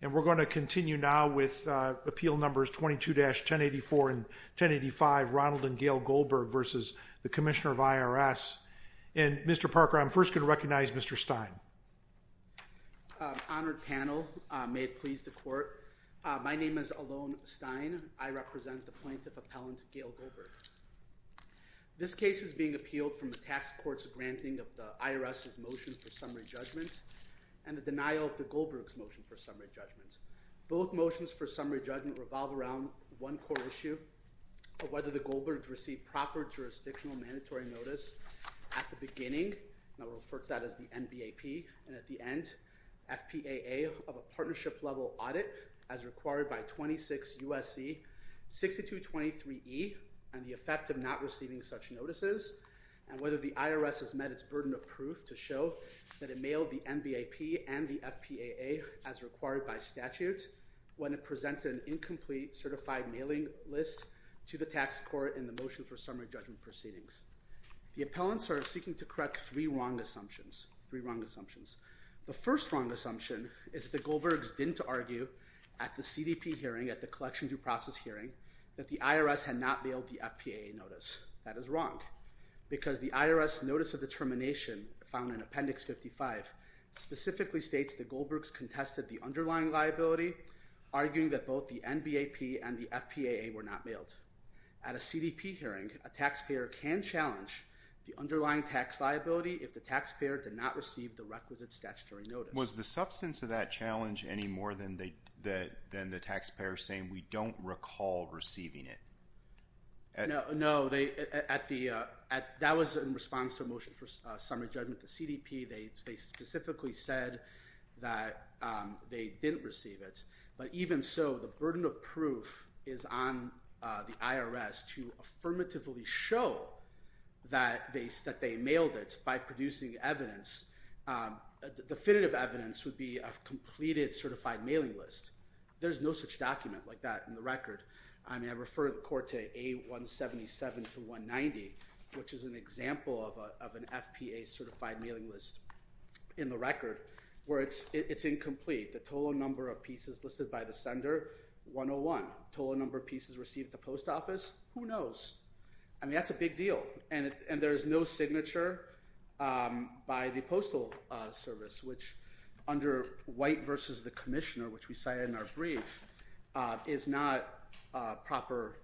And we're going to continue now with appeal numbers 22-1084 and 1085, Ronald and Gail Goldberg v. the Commissioner of IRS. And Mr. Parker, I'm first going to recognize Mr. Stein. Honored panel, may it please the court. My name is Alon Stein. I represent the plaintiff appellant, Gail Goldberg. This case is being appealed from the tax court's granting of the Both motions for summary judgment revolve around one core issue of whether the Goldbergs received proper jurisdictional mandatory notice at the beginning, and I'll refer to that as the NBAP, and at the end, FPAA of a partnership-level audit as required by 26 U.S.C. 6223E and the effect of not receiving such notices, and whether the IRS has met its burden of proof to show that it mailed the NBAP and the FPAA as required by statute when it presented an incomplete certified mailing list to the tax court in the motion for summary judgment proceedings. The appellants are seeking to correct three wrong assumptions, three wrong assumptions. The first wrong assumption is that the Goldbergs didn't argue at the CDP hearing, at the collection due process hearing, that the IRS had not mailed the FPAA notice. That is wrong, because the IRS notice of determination found in Appendix 55 specifically states that Goldbergs contested the underlying liability, arguing that both the NBAP and the FPAA were not mailed. At a CDP hearing, a taxpayer can challenge the underlying tax liability if the taxpayer did not receive the requisite statutory notice. Was the substance of that challenge any more than the taxpayer saying, we don't recall receiving it? No. That was in response to a motion for summary judgment. The CDP, they specifically said that they didn't receive it. But even so, the burden of proof is on the IRS to affirmatively show that they mailed it by producing evidence. Definitive evidence would be a completed certified mailing list. There's no such document like that in the record. I mean, I refer to Corte A-177-190, which is an example of an FPAA certified mailing list in the record, where it's incomplete. The total number of pieces listed by the sender, 101. Total number of pieces received at the post office, who knows? I mean, that's a big deal. And there's no signature by the postal service, which under White v. The Commissioner, which we cited in our brief, is not proper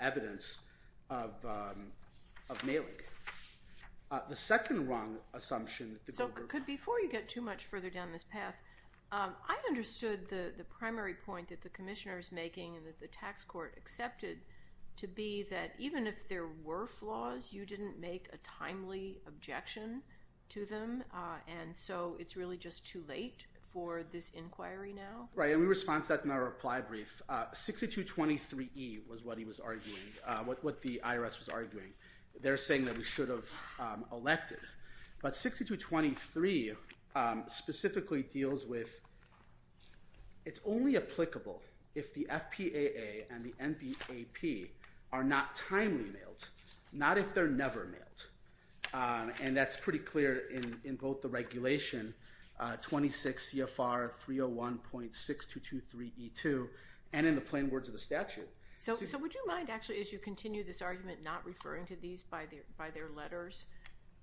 evidence of mailing. The second wrong assumption... So before you get too much further down this path, I understood the primary point that the Commissioner is making and that the tax court accepted to be that even if there were flaws, you didn't make a timely objection to them. And so it's really just too late for this inquiry now? Right. And we respond to that in our reply brief. 6223E was what he was arguing, what the IRS was arguing. They're saying that we should have elected. But 6223 specifically deals with it's only applicable if the FPAA and the NBAP are not timely mailed, not if they're never mailed. And that's pretty clear in both the regulation, 26 CFR 301.6223E2, and in the plain words of the statute. So would you mind actually, as you continue this argument, not referring to these by their letters?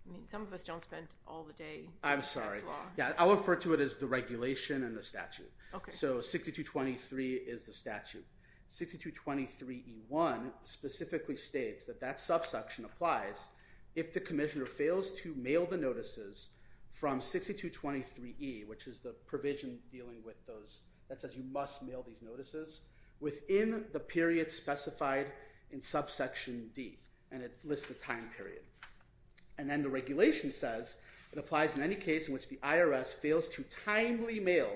I mean, some of us don't spend all the day... I'm sorry. Yeah, I'll refer to it as the regulation and the statute. So 6223 is the statute. 6223E1 specifically states that that subsection applies if the Commissioner fails to mail the notices from 6223E, which is the provision dealing with those that says you must mail these notices within the period specified in subsection D, and it lists the time period. And then the regulation says it applies in any case if the IRS fails to timely mail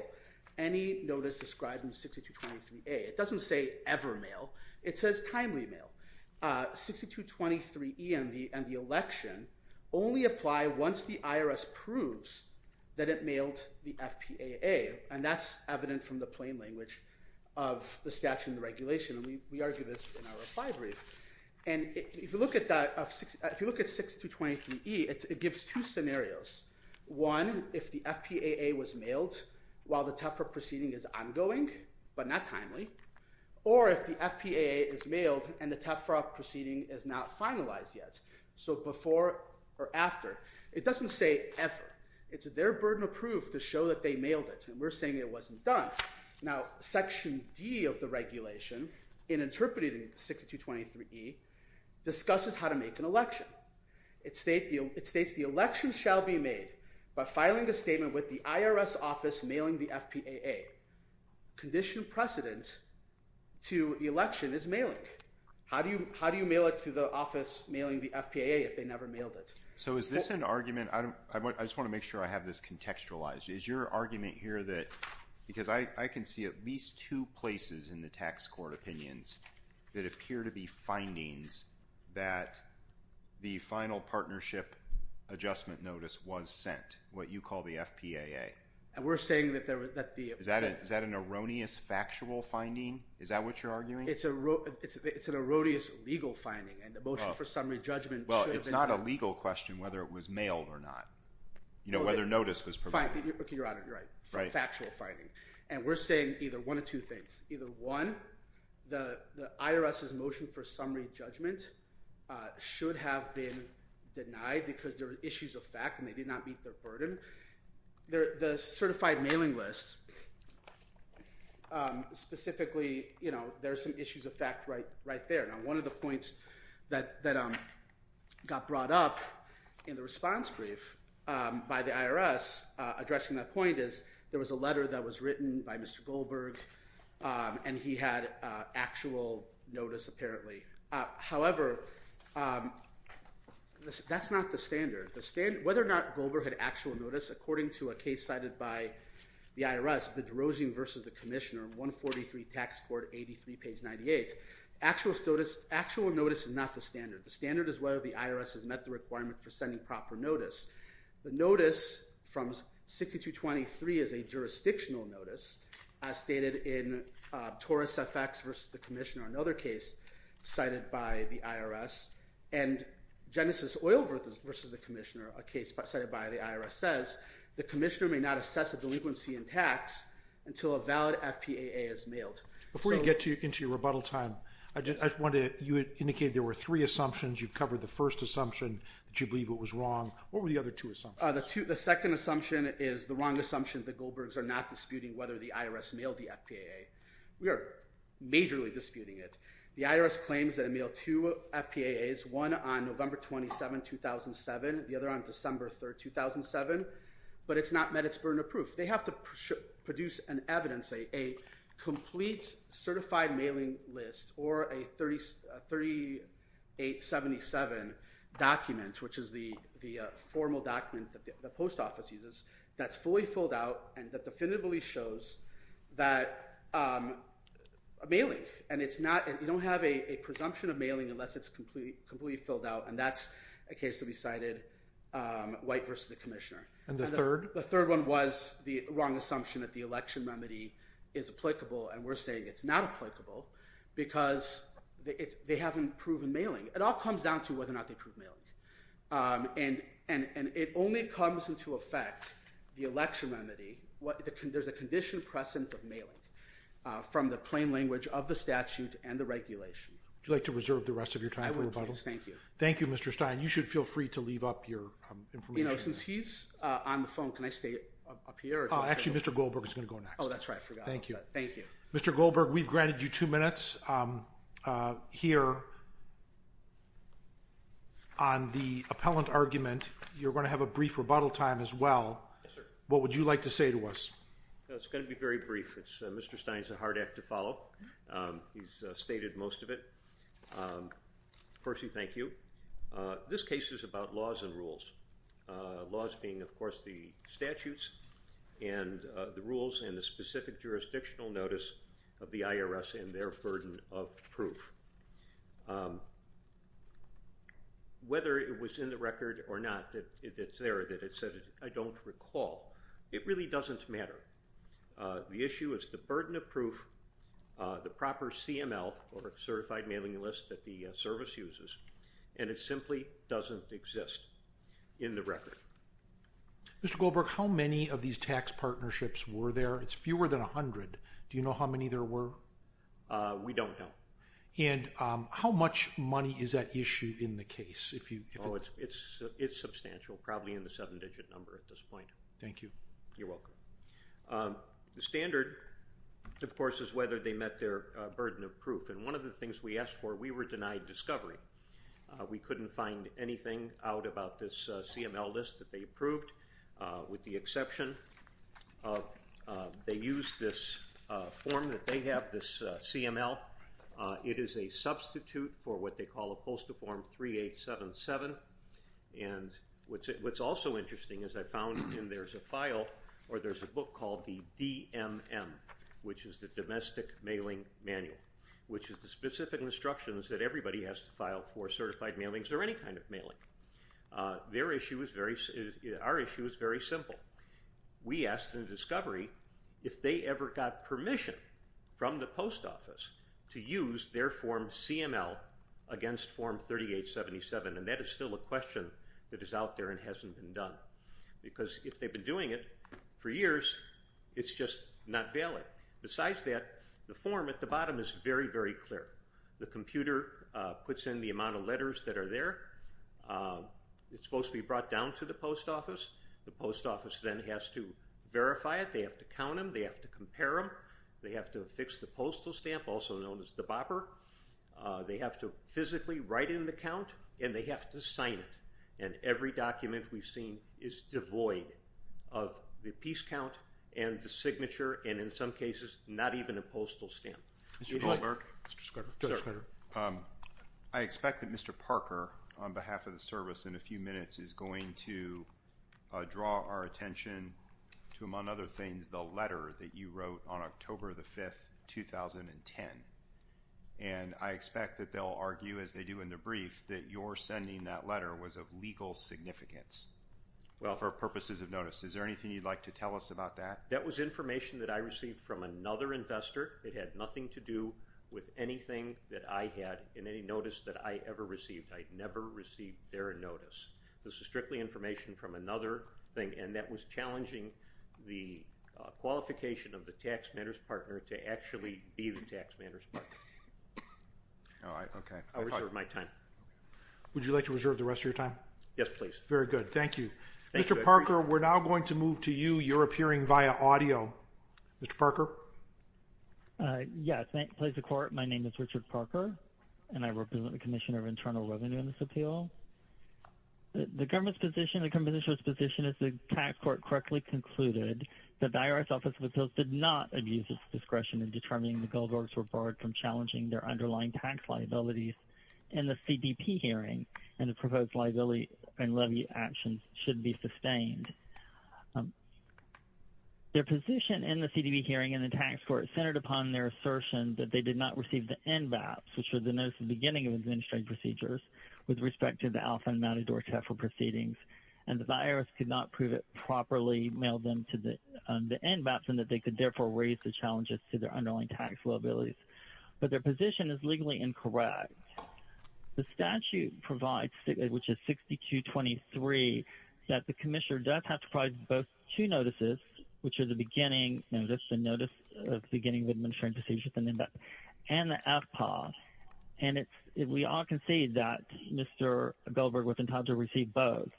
any notice described in 6223A. It doesn't say ever mail. It says timely mail. 6223E and the election only apply once the IRS proves that it mailed the FPAA, and that's evident from the plain language of the statute and the regulation. And we argue this in our reply brief. And if you look at that, if you look at 6223E, it gives two scenarios. One, if the FPAA was mailed while the TEPFRA proceeding is ongoing, but not timely, or if the FPAA is mailed and the TEPFRA proceeding is not finalized yet. So before or after. It doesn't say ever. It's their burden of proof to show that they mailed it, and we're saying it wasn't done. Now section D of the regulation in interpreting 6223E discusses how to make an election. It states the election shall be made by filing a statement with the IRS office mailing the FPAA. Conditioned precedent to the election is mailing. How do you mail it to the office mailing the FPAA if they never mailed it? So is this an argument? I just want to make sure I have this contextualized. Is your opinions that appear to be findings that the final partnership adjustment notice was sent, what you call the FPAA? And we're saying that there would be. Is that an erroneous factual finding? Is that what you're arguing? It's an erroneous legal finding, and the motion for summary judgment. Well it's not a legal question whether it was mailed or not. You know, whether notice was provided. Okay, your honor, you're right. Factual finding. And we're saying either one of two things. Either one, the IRS's motion for summary judgment should have been denied because there were issues of fact and they did not meet their burden. The certified mailing list, specifically, you know, there's some issues of fact right there. Now one of the points that got brought up in the response brief by the IRS addressing that point is there was a letter that was written by Mr. Goldberg and he had actual notice apparently. However, that's not the standard. Whether or not Goldberg had actual notice, according to a case cited by the IRS, Bedrosian v. The Commissioner, 143 Tax Court, 83 page 98. Actual notice is not the standard. The standard is whether the IRS has met the requirement for sending proper notice. The notice from 6223 is a jurisdictional notice as stated in Torres FX v. The Commissioner, another case cited by the IRS. And Genesis Oil v. The Commissioner, a case cited by the IRS, says the commissioner may not assess a delinquency in tax until a valid FPAA is mailed. Before you get into your rebuttal time, you indicated there were three assumptions. You The second assumption is the wrong assumption that Goldbergs are not disputing whether the IRS mailed the FPAA. We are majorly disputing it. The IRS claims that it mailed two FPAAs, one on November 27, 2007, the other on December 3, 2007, but it's not met its burden of proof. They have to produce an evidence, a complete certified mailing list or a 3877 document, which is the formal document that the post office uses, that's fully filled out and that definitively shows that mailing, and it's not, you don't have a presumption of mailing unless it's completely filled out. And that's a case to be cited, White v. The Commissioner. And the third? The third one was the wrong assumption that the election remedy is applicable. And we're saying it's not applicable because they haven't proven mailing. It all comes down to whether or not they proved mailing. And it only comes into effect, the election remedy, there's a condition present of mailing from the plain language of the statute and the regulation. Would you like to reserve the rest of your time for rebuttal? Thank you. Thank you, Mr. Stein. You should feel free to leave up your information. Since he's on the phone, can I stay up here? Actually, Mr. Goldberg is going to go next. Oh, that's right. I forgot. Thank you. Thank you. Mr. Goldberg, we've granted you two minutes here on the appellant argument. You're going to have a brief rebuttal time as well. Yes, sir. What would you like to say to us? It's going to be very brief. Mr. Stein's a hard act to follow. He's stated most of it. Percy, thank you. This case is about laws and rules. Laws being, of course, the statutes and the rules and the specific jurisdictional notice of the IRS and their burden of proof. Whether it was in the record or not that it's there, that it said, I don't recall, it really doesn't matter. The issue is the burden of proof, the proper CML, or certified mailing list that the service uses, and it simply doesn't exist in the record. Mr. Goldberg, how many of these tax partnerships were there? It's fewer than 100. Do you know how many there were? We don't know. How much money is at issue in the case? It's substantial, probably in the seven-digit number at this point. Thank you. You're welcome. The standard, of course, is whether they met their burden of proof. One of the things we asked for, we were denied discovery. We couldn't find anything out about this CML list that they approved, with the exception of they used this form that they have, this CML. It is a substitute for what they call a postal form 3877, and what's also interesting is I found in there's a file, or there's a book called the DMM, which is the Domestic Mailing Manual, which is the specific instructions that everybody has to file for certified mailings or any kind of mailing. Our issue is very simple. We asked in the discovery if they ever got permission from the post office to use their form CML against form 3877, and that is still a question that is out there and hasn't been done, because if they've been doing it for years, it's just not valid. Besides that, the form at the bottom is very, very clear. The computer puts in the amount of letters that are there. It's supposed to be brought down to the post office. The post office then has to verify it. They have to count them. They have to compare them. They have to affix the postal stamp, also known as the BOPR. They have to physically write in the count, and they have to sign it, and every document we've seen is devoid of the piece count and the signature, and in some cases, not even a postal stamp. Mr. Goldberg. I expect that Mr. Parker, on behalf of the service, in a few minutes is going to draw our attention to, among other things, the letter that you wrote on October the 5th, 2010, and I expect that they'll argue, as they do in the brief, that your sending that letter was of legal significance for purposes of notice. Is there anything you'd like to tell us about that? That was information that I received from another investor. It had nothing to do with anything that I had in any notice that I ever received. I never received their notice. This is strictly information from another thing, and that was challenging the qualification of the tax matters partner to actually be the tax matters partner. I'll reserve my time. Would you like to reserve the rest of your time? Yes, please. Very good. Thank you. Mr. Parker, we're now going to move to you. You're on audio. Mr. Parker. Yes, thank you. Please record. My name is Richard Parker, and I represent the Commissioner of Internal Revenue in this appeal. The government's position, the commissioner's position is the tax court correctly concluded that the IRS Office of Appeals did not abuse its discretion in determining the Goldbergs were barred from challenging their underlying tax liabilities in the CBP hearing, and the proposed liability and levy actions should be sustained. Their position in the CDB hearing and the tax court centered upon their assertion that they did not receive the NBAPS, which was the notice at the beginning of administrative procedures with respect to the Alpha and Meta-Dwarf Tefla proceedings, and the IRS could not prove it properly, mail them to the NBAPS, and that they could therefore raise the challenges to their underlying tax liabilities. But their position is legally incorrect. The statute provides, which is 6223, that the commissioner does have to provide both two notices, which are the beginning notice, the notice of beginning of administrative procedures with the NBAPS, and the FPAW, and we all concede that Mr. Goldberg was entitled to receive both.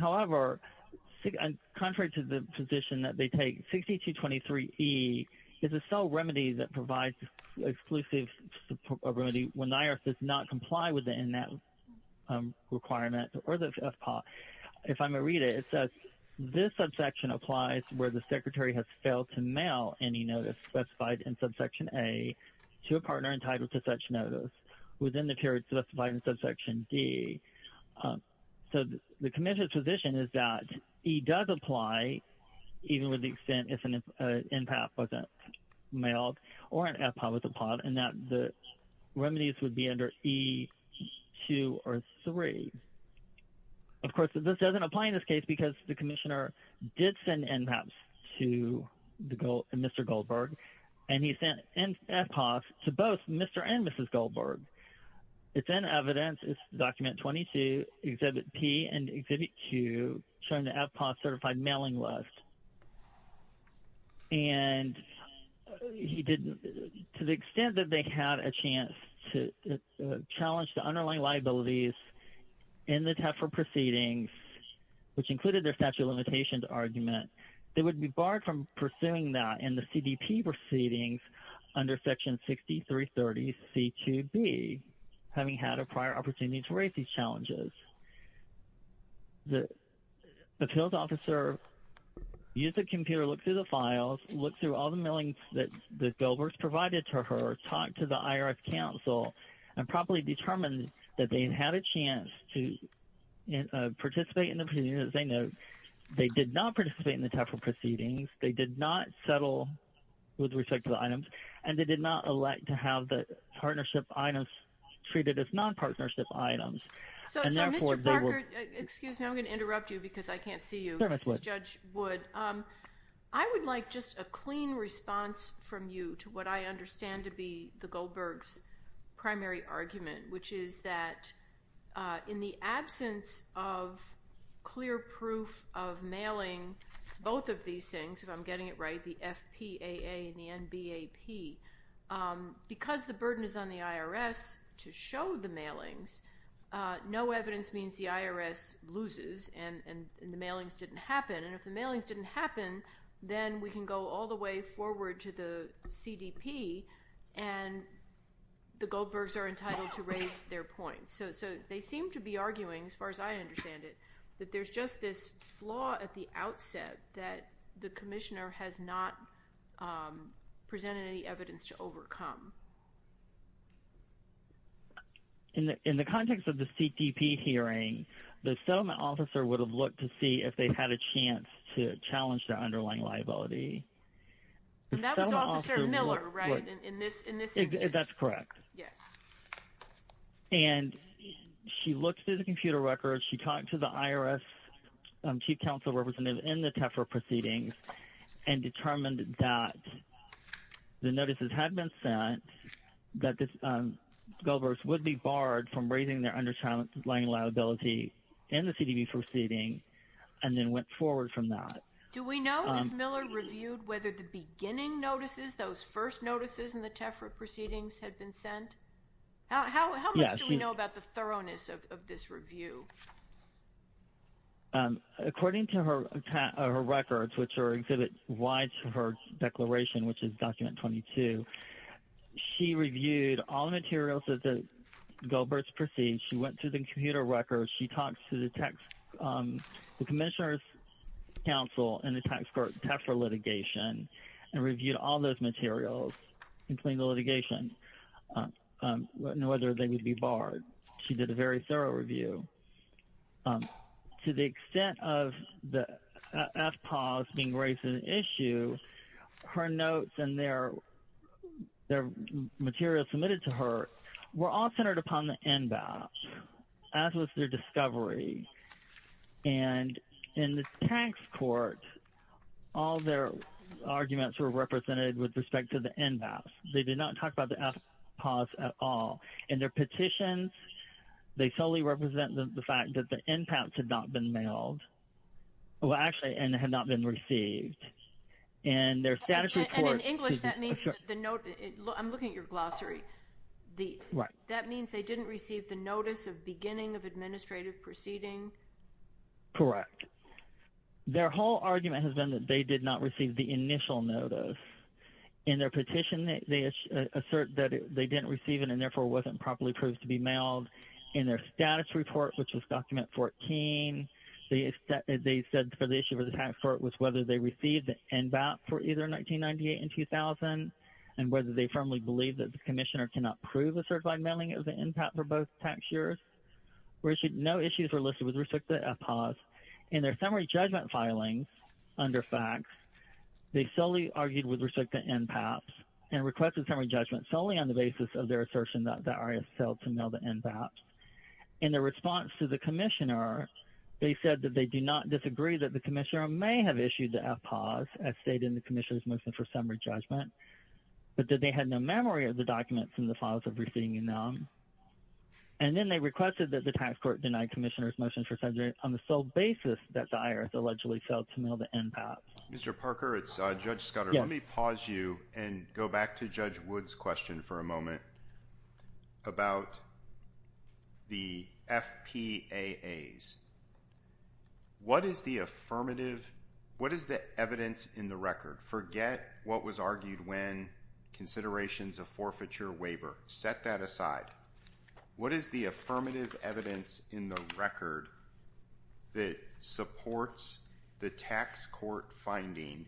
However, contrary to the position that they take, 6223E is a sole remedy that provides exclusive remedy when the IRS does not comply with the NBAPS requirement or the FPAW. If I may read it, it says, this subsection applies where the secretary has failed to mail any notice specified in subsection A to a partner entitled to such notice within the period specified in subsection D. So the commissioner's position is that E does apply even with the extent if an NBAPS wasn't remedies would be under E2 or E3. Of course, this doesn't apply in this case because the commissioner did send NBAPS to Mr. Goldberg, and he sent FPAWs to both Mr. and Mrs. Goldberg. It's in evidence, it's document 22, exhibit P and exhibit Q, showing the FPAW certified mailing list. And he didn't, to the extent that they had a chance to challenge the underlying liabilities in the TEFRA proceedings, which included their statute of limitations argument, they would be barred from pursuing that in the CDP proceedings under section 6330C2B, having had a prior opportunity to raise these challenges. The appeals officer used the computer, looked through the files, looked through all the mailings that Goldberg's provided to her, talked to the IRS counsel, and properly determined that they had a chance to participate in the proceedings. They did not participate in the TEFRA proceedings, they did not settle with respect to the items, and they did not elect to have the partnership items treated as non-partnership items. So, Mr. Parker, excuse me, I'm going to interrupt you because I can't see you, Judge Wood. I would like just a clean response from you to what I understand to be the Goldberg's primary argument, which is that in the absence of clear proof of mailing both of these things, if I'm getting it right, the FPAA and BAP, because the burden is on the IRS to show the mailings, no evidence means the IRS loses and the mailings didn't happen. And if the mailings didn't happen, then we can go all the way forward to the CDP and the Goldberg's are entitled to raise their points. So, they seem to be arguing, as far as I understand it, that there's just this flaw at the outset that the commissioner has not presented any evidence to overcome. In the context of the CDP hearing, the settlement officer would have looked to see if they had a chance to challenge the underlying liability. And that was Officer Miller, right, in this instance? That's correct. Yes. And she looked through the computer records, she talked to the IRS chief counsel representative in the TEFRA proceedings, and determined that the notices had been sent, that the Goldberg's would be barred from raising their underlying liability in the CDP proceeding, and then went forward from that. Do we know if Miller reviewed whether the beginning notices, those first notices in the TEFRA proceedings had been sent? How much do we know about the thoroughness of this review? According to her records, which are exhibit Y to her declaration, which is document 22, she reviewed all the materials that the Goldberg's proceeded, she went through the computer records, she talked to the commissioner's counsel in the TEFRA litigation, and reviewed all those materials, including the litigation, and whether they would be barred. She did a very thorough review. To the extent of the FPAWS being raised an issue, her notes and their materials submitted to her were all centered upon the NBAPS, as was their discovery. And in the tax court, all their arguments were represented with respect to the NBAPS. They did not talk about the FPAWS at all. In their petitions, they solely represent the fact that the NBAPS had not been mailed. Well, actually, and had not been received. And their status report... And in English, that means the note... I'm looking at your glossary. That means they didn't receive the notice of beginning of administrative proceeding? Correct. Their whole argument has been that they did not receive the initial notice. In their petition, they assert that they didn't receive it, and therefore, wasn't properly proved to be mailed. In their status report, which was document 14, they said for the issue of the tax court was whether they received the NBAPS for either 1998 and 2000, and whether they firmly believe that the commissioner cannot prove a certified mailing of the NBAPS for both tax years. No issues were listed with respect to the FPAWS. In their summary judgment filings under FACTS, they solely argued with respect to NBAPS, and requested summary judgment solely on the basis of their assertion that the IRS failed to mail the NBAPS. In their response to the commissioner, they said that they do not disagree that the commissioner may have issued the FPAWS as stated in the commissioner's motion for summary judgment, but that they had no memory of the documents in the files of receiving them. And then they requested that the tax court deny commissioner's motion for subject... on the sole basis that the IRS allegedly failed to mail the NBAPS. Mr. Parker, it's Judge Scudder. Let me pause you and go back to Judge Wood's question for a moment about the FPAAs. What is the affirmative... what is the evidence in the record? Forget what was argued when considerations of forfeiture waiver. Set that aside. What is the affirmative evidence in the record that supports the tax court finding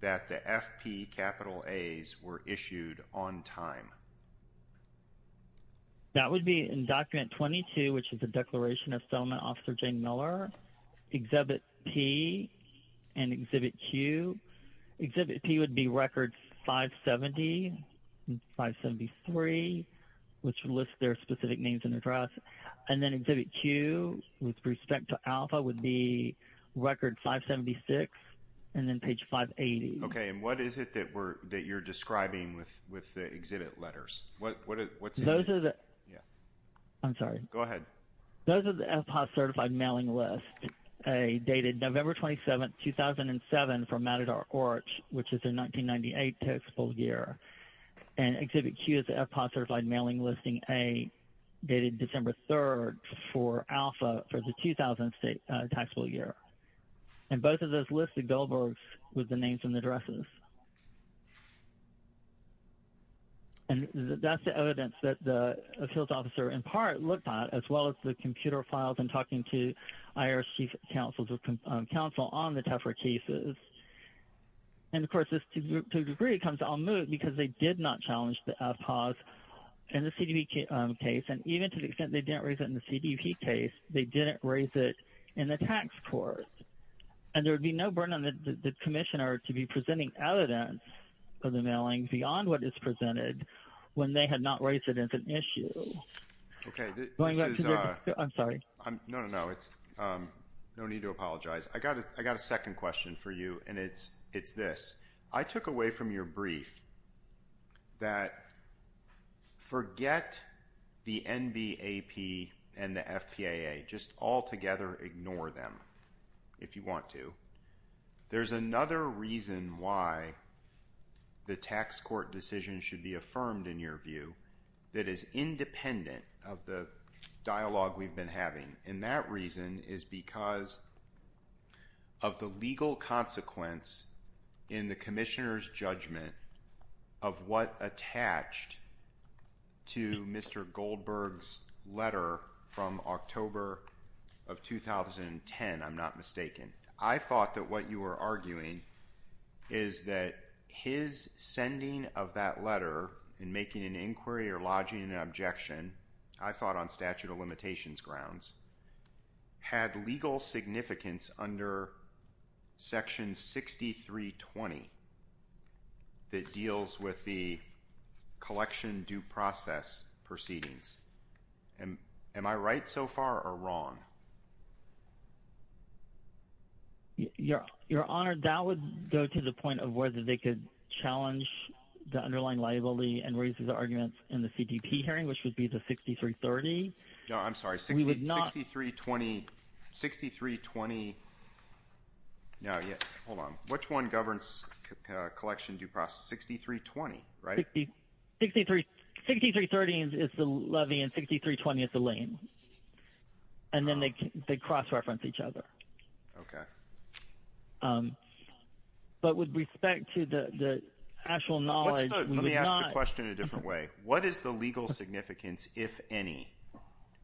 that the FPAAs were issued on time? That would be in document 22, which is the Declaration of Settlement, Officer Jane Miller, Exhibit P, and Exhibit Q. Exhibit P would be record 570 and 573, which lists their specific names and address. And then Exhibit Q, with respect to Alpha, would be record 576 and then page 580. Okay, and what is it that we're... that you're describing with the exhibit letters? Those are the... I'm sorry. Go ahead. Those are the FPAA certified mailing lists, a dated November 27, 2007, from Matador Orch, which is their 1998 taxable year. And Exhibit Q is the FPAA certified mailing listing, a dated December 3, for Alpha, for the 2000 taxable year. And both of those list the Goldbergs with the names and addresses. And that's the evidence that the appeals officer, in part, looked at, as well as the computer files and talking to IRS chief counsel on the tougher cases. And, of course, this, to a degree, comes en moute because they did not challenge the FPAAs in the CDB case. And even to the extent they didn't raise it in the CDB case, they didn't raise it in the tax court. And there would be no burden on the commissioner to be presenting evidence of the mailing beyond what is presented when they had not raised it as an issue. Okay, this is... I'm sorry. No, no, no. It's... No need to apologize. I got a second question for you, and it's this. I took away from your brief that forget the NBAP and the FPAA. Just altogether ignore them, if you want to. There's another reason why the tax court decision should be affirmed, in your view, that is independent of the dialogue we've been having. And that reason is because of the legal consequence in the commissioner's judgment of what attached to Mr. Goldberg's letter from October of 2010, if I'm not mistaken. I thought that what you were arguing is that his sending of that letter and making an inquiry or lodging an objection, I thought on statute of under Section 6320 that deals with the collection due process proceedings. Am I right so far or wrong? Your Honor, that would go to the point of whether they could challenge the underlying liability and raise the arguments in the CDB hearing, which would be the 6330. No, I'm sorry. 6320... Hold on. Which one governs collection due process? 6320, right? 6330 is the levy and 6320 is the lien. And then they cross-reference each other. Okay. But with respect to the actual knowledge... Let me ask the question in a different way. What is the legal significance, if any,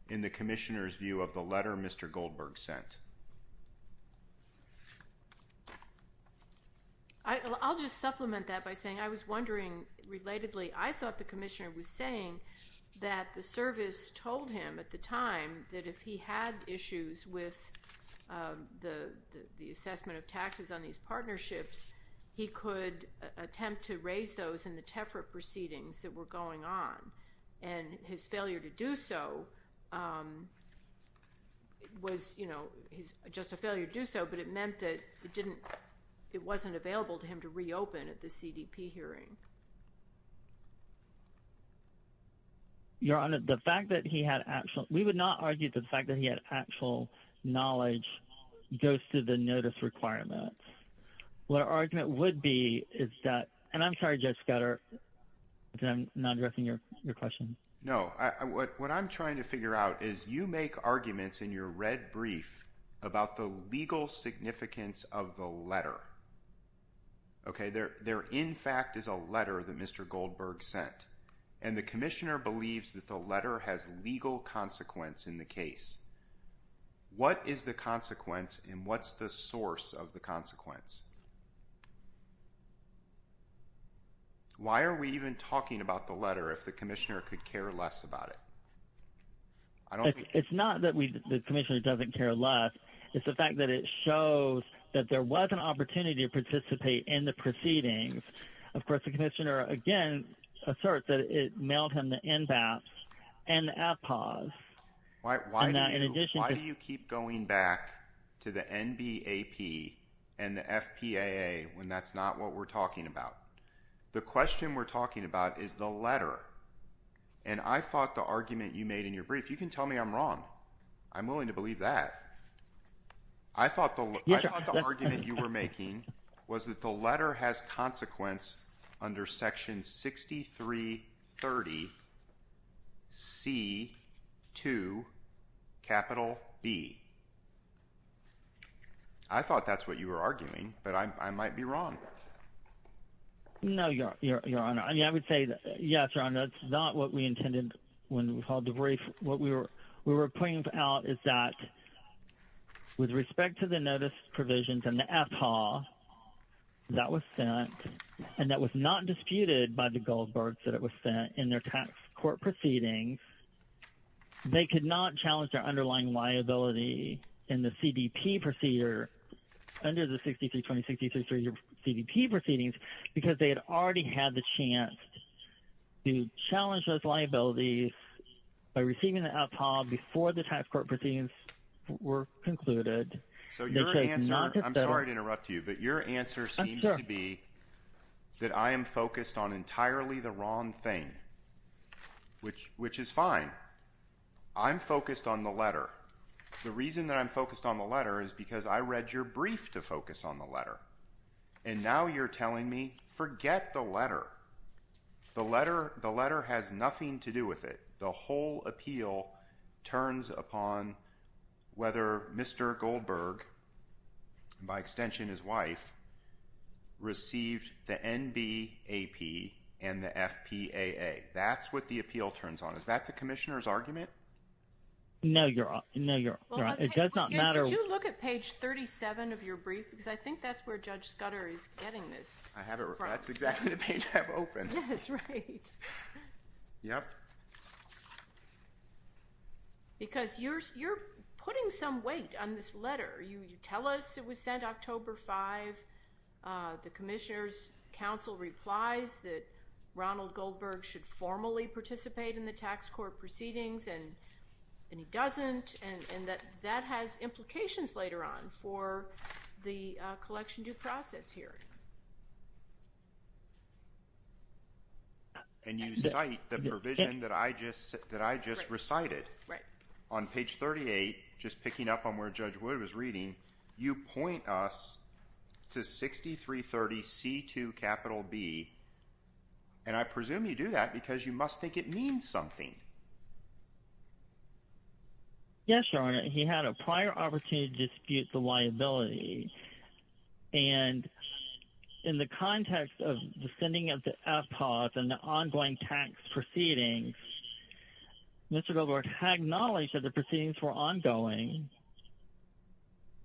in the commissioner's view of the letter Mr. Goldberg sent? I'll just supplement that by saying I was wondering, relatedly, I thought the commissioner was saying that the service told him at the time that if he had issues with the assessment of taxes on these partnerships, he could attempt to raise those in the TEFRA proceedings that were going on. And his failure to do so was just a failure to do so, but it meant that it wasn't available to him to reopen at the CDP hearing. Your Honor, we would not argue that the fact that he had actual knowledge goes to the notice requirements. What our argument would be is that... And I'm not addressing your question. No. What I'm trying to figure out is you make arguments in your red brief about the legal significance of the letter. Okay. There, in fact, is a letter that Mr. Goldberg sent, and the commissioner believes that the letter has legal consequence in the case. What is the consequence and what's the source of the consequence? Why are we even talking about the letter if the commissioner could care less about it? It's not that the commissioner doesn't care less. It's the fact that it shows that there was an opportunity to participate in the proceedings. Of course, the commissioner, again, asserts that it mailed him the NBAPS and the APPAWS. Why do you keep going back to the NBAP and the FDAP? That's not what we're talking about. The question we're talking about is the letter, and I thought the argument you made in your brief... You can tell me I'm wrong. I'm willing to believe that. I thought the argument you were making was that the letter has consequence under Section 6330C2B. I thought that's what you were arguing, but I might be wrong. No, Your Honor. I mean, I would say yes, Your Honor. It's not what we intended when we filed the brief. What we were pointing out is that with respect to the notice provisions and the APPAWS that was sent and that was not disputed by the Goldbergs that it was sent in their tax court proceedings, they could not challenge their underlying liability in the CDP proceedings because they had already had the chance to challenge those liabilities by receiving the APPAWS before the tax court proceedings were concluded. I'm sorry to interrupt you, but your answer seems to be that I am focused on entirely the wrong thing, which is fine. I'm focused on the letter. The reason that I'm focused on the letter is because I read your brief to focus on the letter, and now you're telling me forget the letter. The letter has nothing to do with it. The whole appeal turns upon whether Mr. Goldberg, by extension his wife, received the NBAP and the FPAA. That's what the appeal turns on. Is that the commissioner's argument? No, Your Honor. It does not matter. Did you look at page 37 of your brief? Because I think that's where Judge Scudder is getting this. I have it. That's exactly the page I've opened. Yes, right. Yep. Because you're putting some weight on this letter. You tell us it was October 5. The commissioner's counsel replies that Ronald Goldberg should formally participate in the tax court proceedings, and he doesn't, and that has implications later on for the collection due process here. And you cite the provision that I just recited. Right. On page 38, just picking up on where Judge Wood was reading, you point us to 6330 C2 capital B, and I presume you do that because you must think it means something. Yes, Your Honor. He had a prior opportunity to dispute the liability, and in the context of the sending of the FPAA and the ongoing tax proceedings, Mr. Goldberg had acknowledged that the proceedings were ongoing.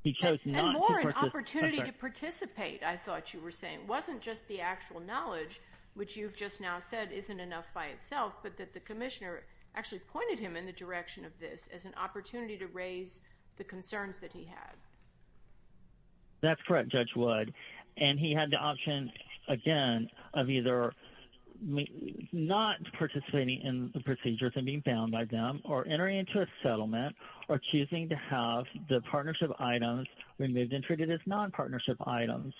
He chose not to participate. And more an opportunity to participate, I thought you were saying. It wasn't just the actual knowledge, which you've just now said isn't enough by itself, but that the commissioner actually pointed him in the direction of this as an opportunity to raise the concerns that he had. That's correct, Judge Wood, and he had the option again of either not participating in the procedures and being bound by them or entering into a settlement or choosing to have the partnership items removed and treated as non-partnership items.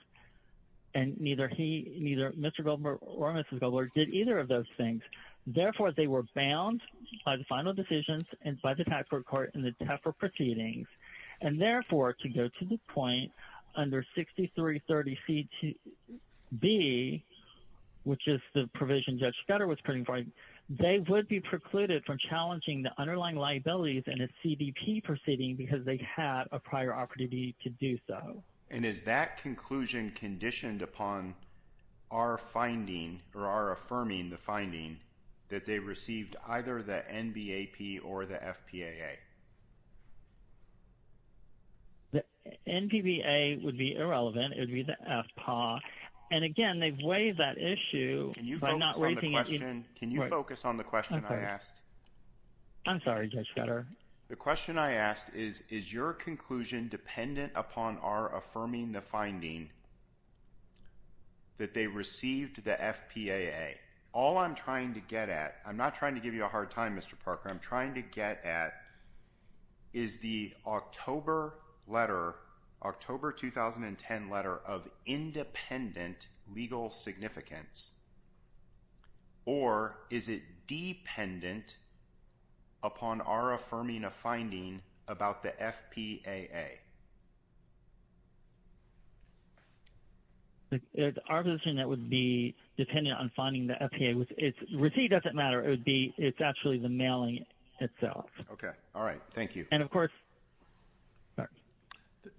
And neither he, neither Mr. Goldberg or Mrs. Goldberg did either of those things. Therefore, they were bound by the final decisions and by the tax court court and the TEPA proceedings. And therefore, to go to the point under 6330C2B, which is the provision Judge Scudder was putting forward, they would be precluded from challenging the underlying liabilities in a CDP proceeding because they had a prior opportunity to do so. And is that conclusion conditioned upon our finding or our affirming the finding that they received either the NBAP or the FPAA? The NBAP would be irrelevant. It would be the FPAA. And again, they've waived that issue. Can you focus on the question I asked? I'm sorry, Judge Scudder. The question I asked is, is your conclusion dependent upon our affirming the finding that they received the FPAA? All I'm trying to get at, I'm not trying to give you a hard time, I'm trying to get at, is the October letter, October 2010 letter of independent legal significance or is it dependent upon our affirming a finding about the FPAA? Our position would be dependent on finding the FPAA. Receipt doesn't matter. It's actually the mailing itself.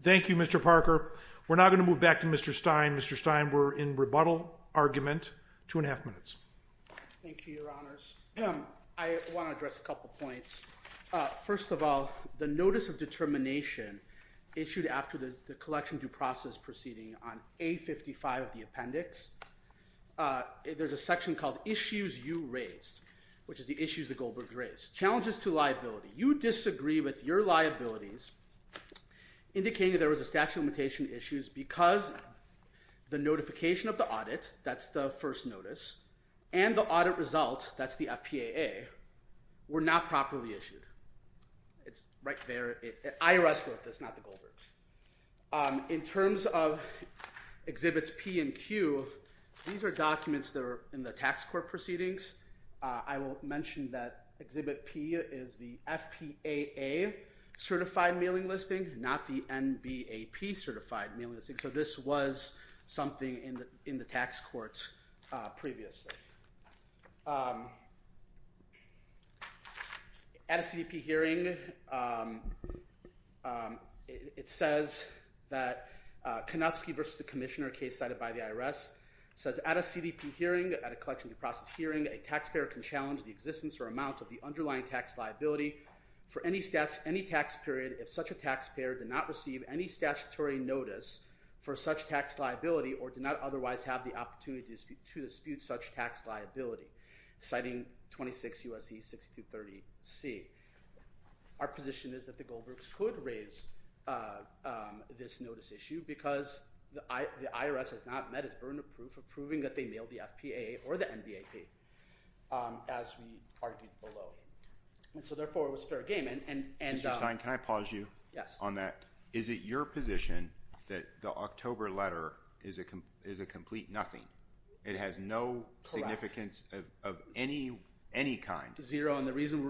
Thank you, Mr. Parker. We're now going to move back to Mr. Stein. Mr. Stein, we're in rebuttal argument, two and a half minutes. Thank you, Your Honors. I want to address a couple points. First of all, the notice of determination issued after the collection due process proceeding on A55 of the appendix, there's a section called issues you raised, which is the issues the Goldbergs raised. Challenges to liability. You disagree with your liabilities indicating there was a statute of limitation issues because the notification of the audit, that's the first notice, and the audit result, that's the FPAA, were not properly issued. It's right there. IRS wrote this, not the Goldbergs. In terms of exhibits P and Q, these are documents that are in the tax court proceedings. I will mention that exhibit P is the FPAA certified mailing listing, not the NBAP certified mailing listing. So this was something in the tax courts previously. At a CDP hearing, it says that Kanofsky versus the commissioner case cited by the IRS says at a CDP hearing, at a collection due process hearing, a taxpayer can challenge the existence or amount of the underlying tax liability for any tax period if such a taxpayer did not receive any statutory notice for such tax liability or did not otherwise have the opportunity to dispute such tax liability, citing 26 U.S.C. 6230C. Our position is that the Goldbergs could raise this notice issue because the IRS has not met its burden of proof of proving that they mailed the FPAA or the NBAP as we argued below. So therefore, it was fair game. Mr. Stein, can I pause you on that? Is it your position that the October letter is a complete nothing? It has no significance of any kind? Zero. And the reason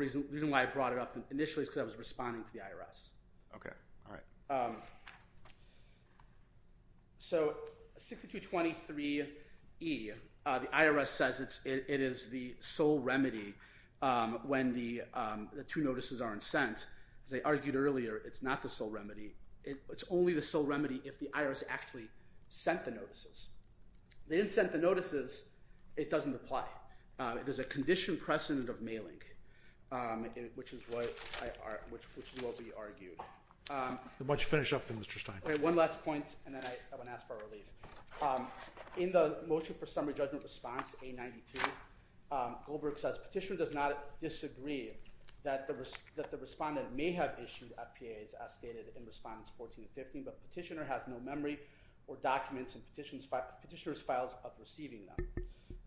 why I brought it up initially is because I was responding to the IRS. So 6223E, the IRS says it is the sole remedy when the two notices aren't sent. As I argued earlier, it's not the sole remedy. It's only the sole remedy if the IRS actually sent the notices. They didn't send the notices, it doesn't apply. There's a conditioned precedent of mailing, which is what we argued. Why don't you finish up then, Mr. Stein? One last point, and then I'm going to ask for a relief. In the motion for summary judgment response, A92, Goldberg says, petitioner does not disagree that the respondent may have issued FPAAs as stated in response 1415, but petitioner has no memory or documents in petitioner's files of receiving them.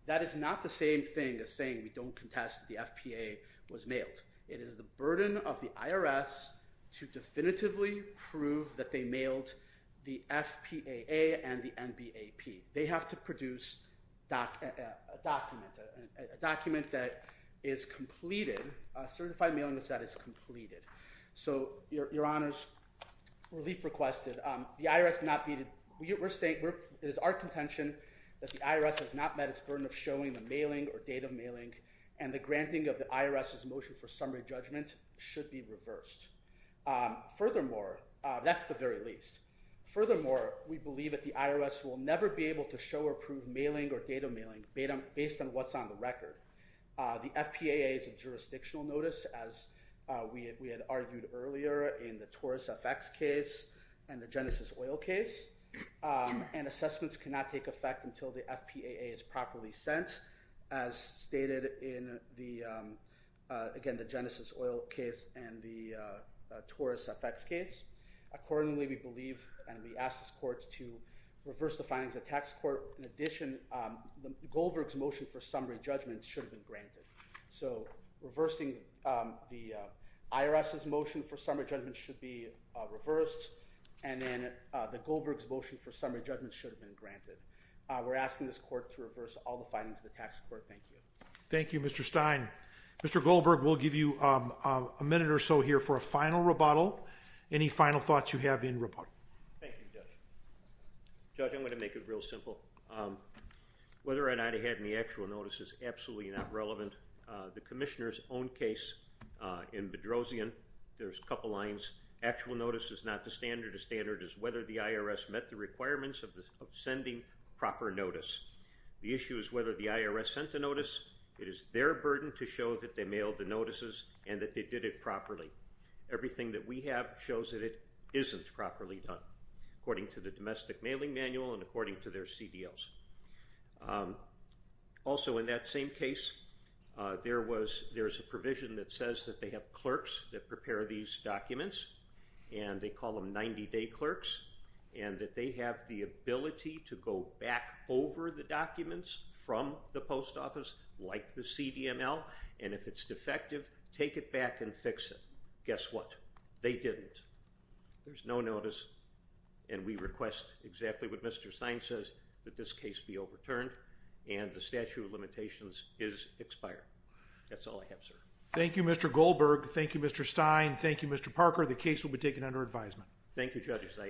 That is not the same thing as saying we don't contest the FPAA was mailed. It is the burden of the IRS to definitively prove that they mailed the FPAA and the NBAP. They have to produce a document, a document that is completed, a certified mailing list that is completed. So your honors, relief requested. The IRS not be, it is our contention that the IRS has not met its burden of showing the mailing or date of mailing, and the granting of the IRS's motion for summary judgment should be reversed. Furthermore, that's the very least. Furthermore, we believe that the based on what's on the record, the FPAA is a jurisdictional notice, as we had argued earlier in the Taurus FX case and the Genesis Oil case, and assessments cannot take effect until the FPAA is properly sent as stated in the, again, the Genesis Oil case and the Taurus FX case. Accordingly, we believe, and we ask this court to reverse the findings of the tax court. In addition, Goldberg's motion for summary judgment should have been granted. So reversing the IRS's motion for summary judgment should be reversed, and then the Goldberg's motion for summary judgment should have been granted. We're asking this court to reverse all the findings of the tax court. Thank you. Thank you, Mr. Stein. Mr. Goldberg, we'll give you a minute or so here for a final rebuttal. Any final thoughts you have in rebuttal? Thank you, Judge. Judge, I'm going to make it real whether or not I had any actual notice is absolutely not relevant. The commissioner's own case in Bedrosian, there's a couple lines. Actual notice is not the standard. The standard is whether the IRS met the requirements of the sending proper notice. The issue is whether the IRS sent a notice. It is their burden to show that they mailed the notices and that they did it properly. Everything that we have shows that it isn't properly done, according to the domestic law. Also, in that same case, there's a provision that says that they have clerks that prepare these documents, and they call them 90-day clerks, and that they have the ability to go back over the documents from the post office, like the CDML, and if it's defective, take it back and fix it. Guess what? They didn't. There's no notice, and we request exactly what Mr. Stein says, that this case be overturned, and the statute of limitations is expired. That's all I have, sir. Thank you, Mr. Goldberg. Thank you, Mr. Stein. Thank you, Mr. Parker. The case will be taken under advisement. Thank you, Judge.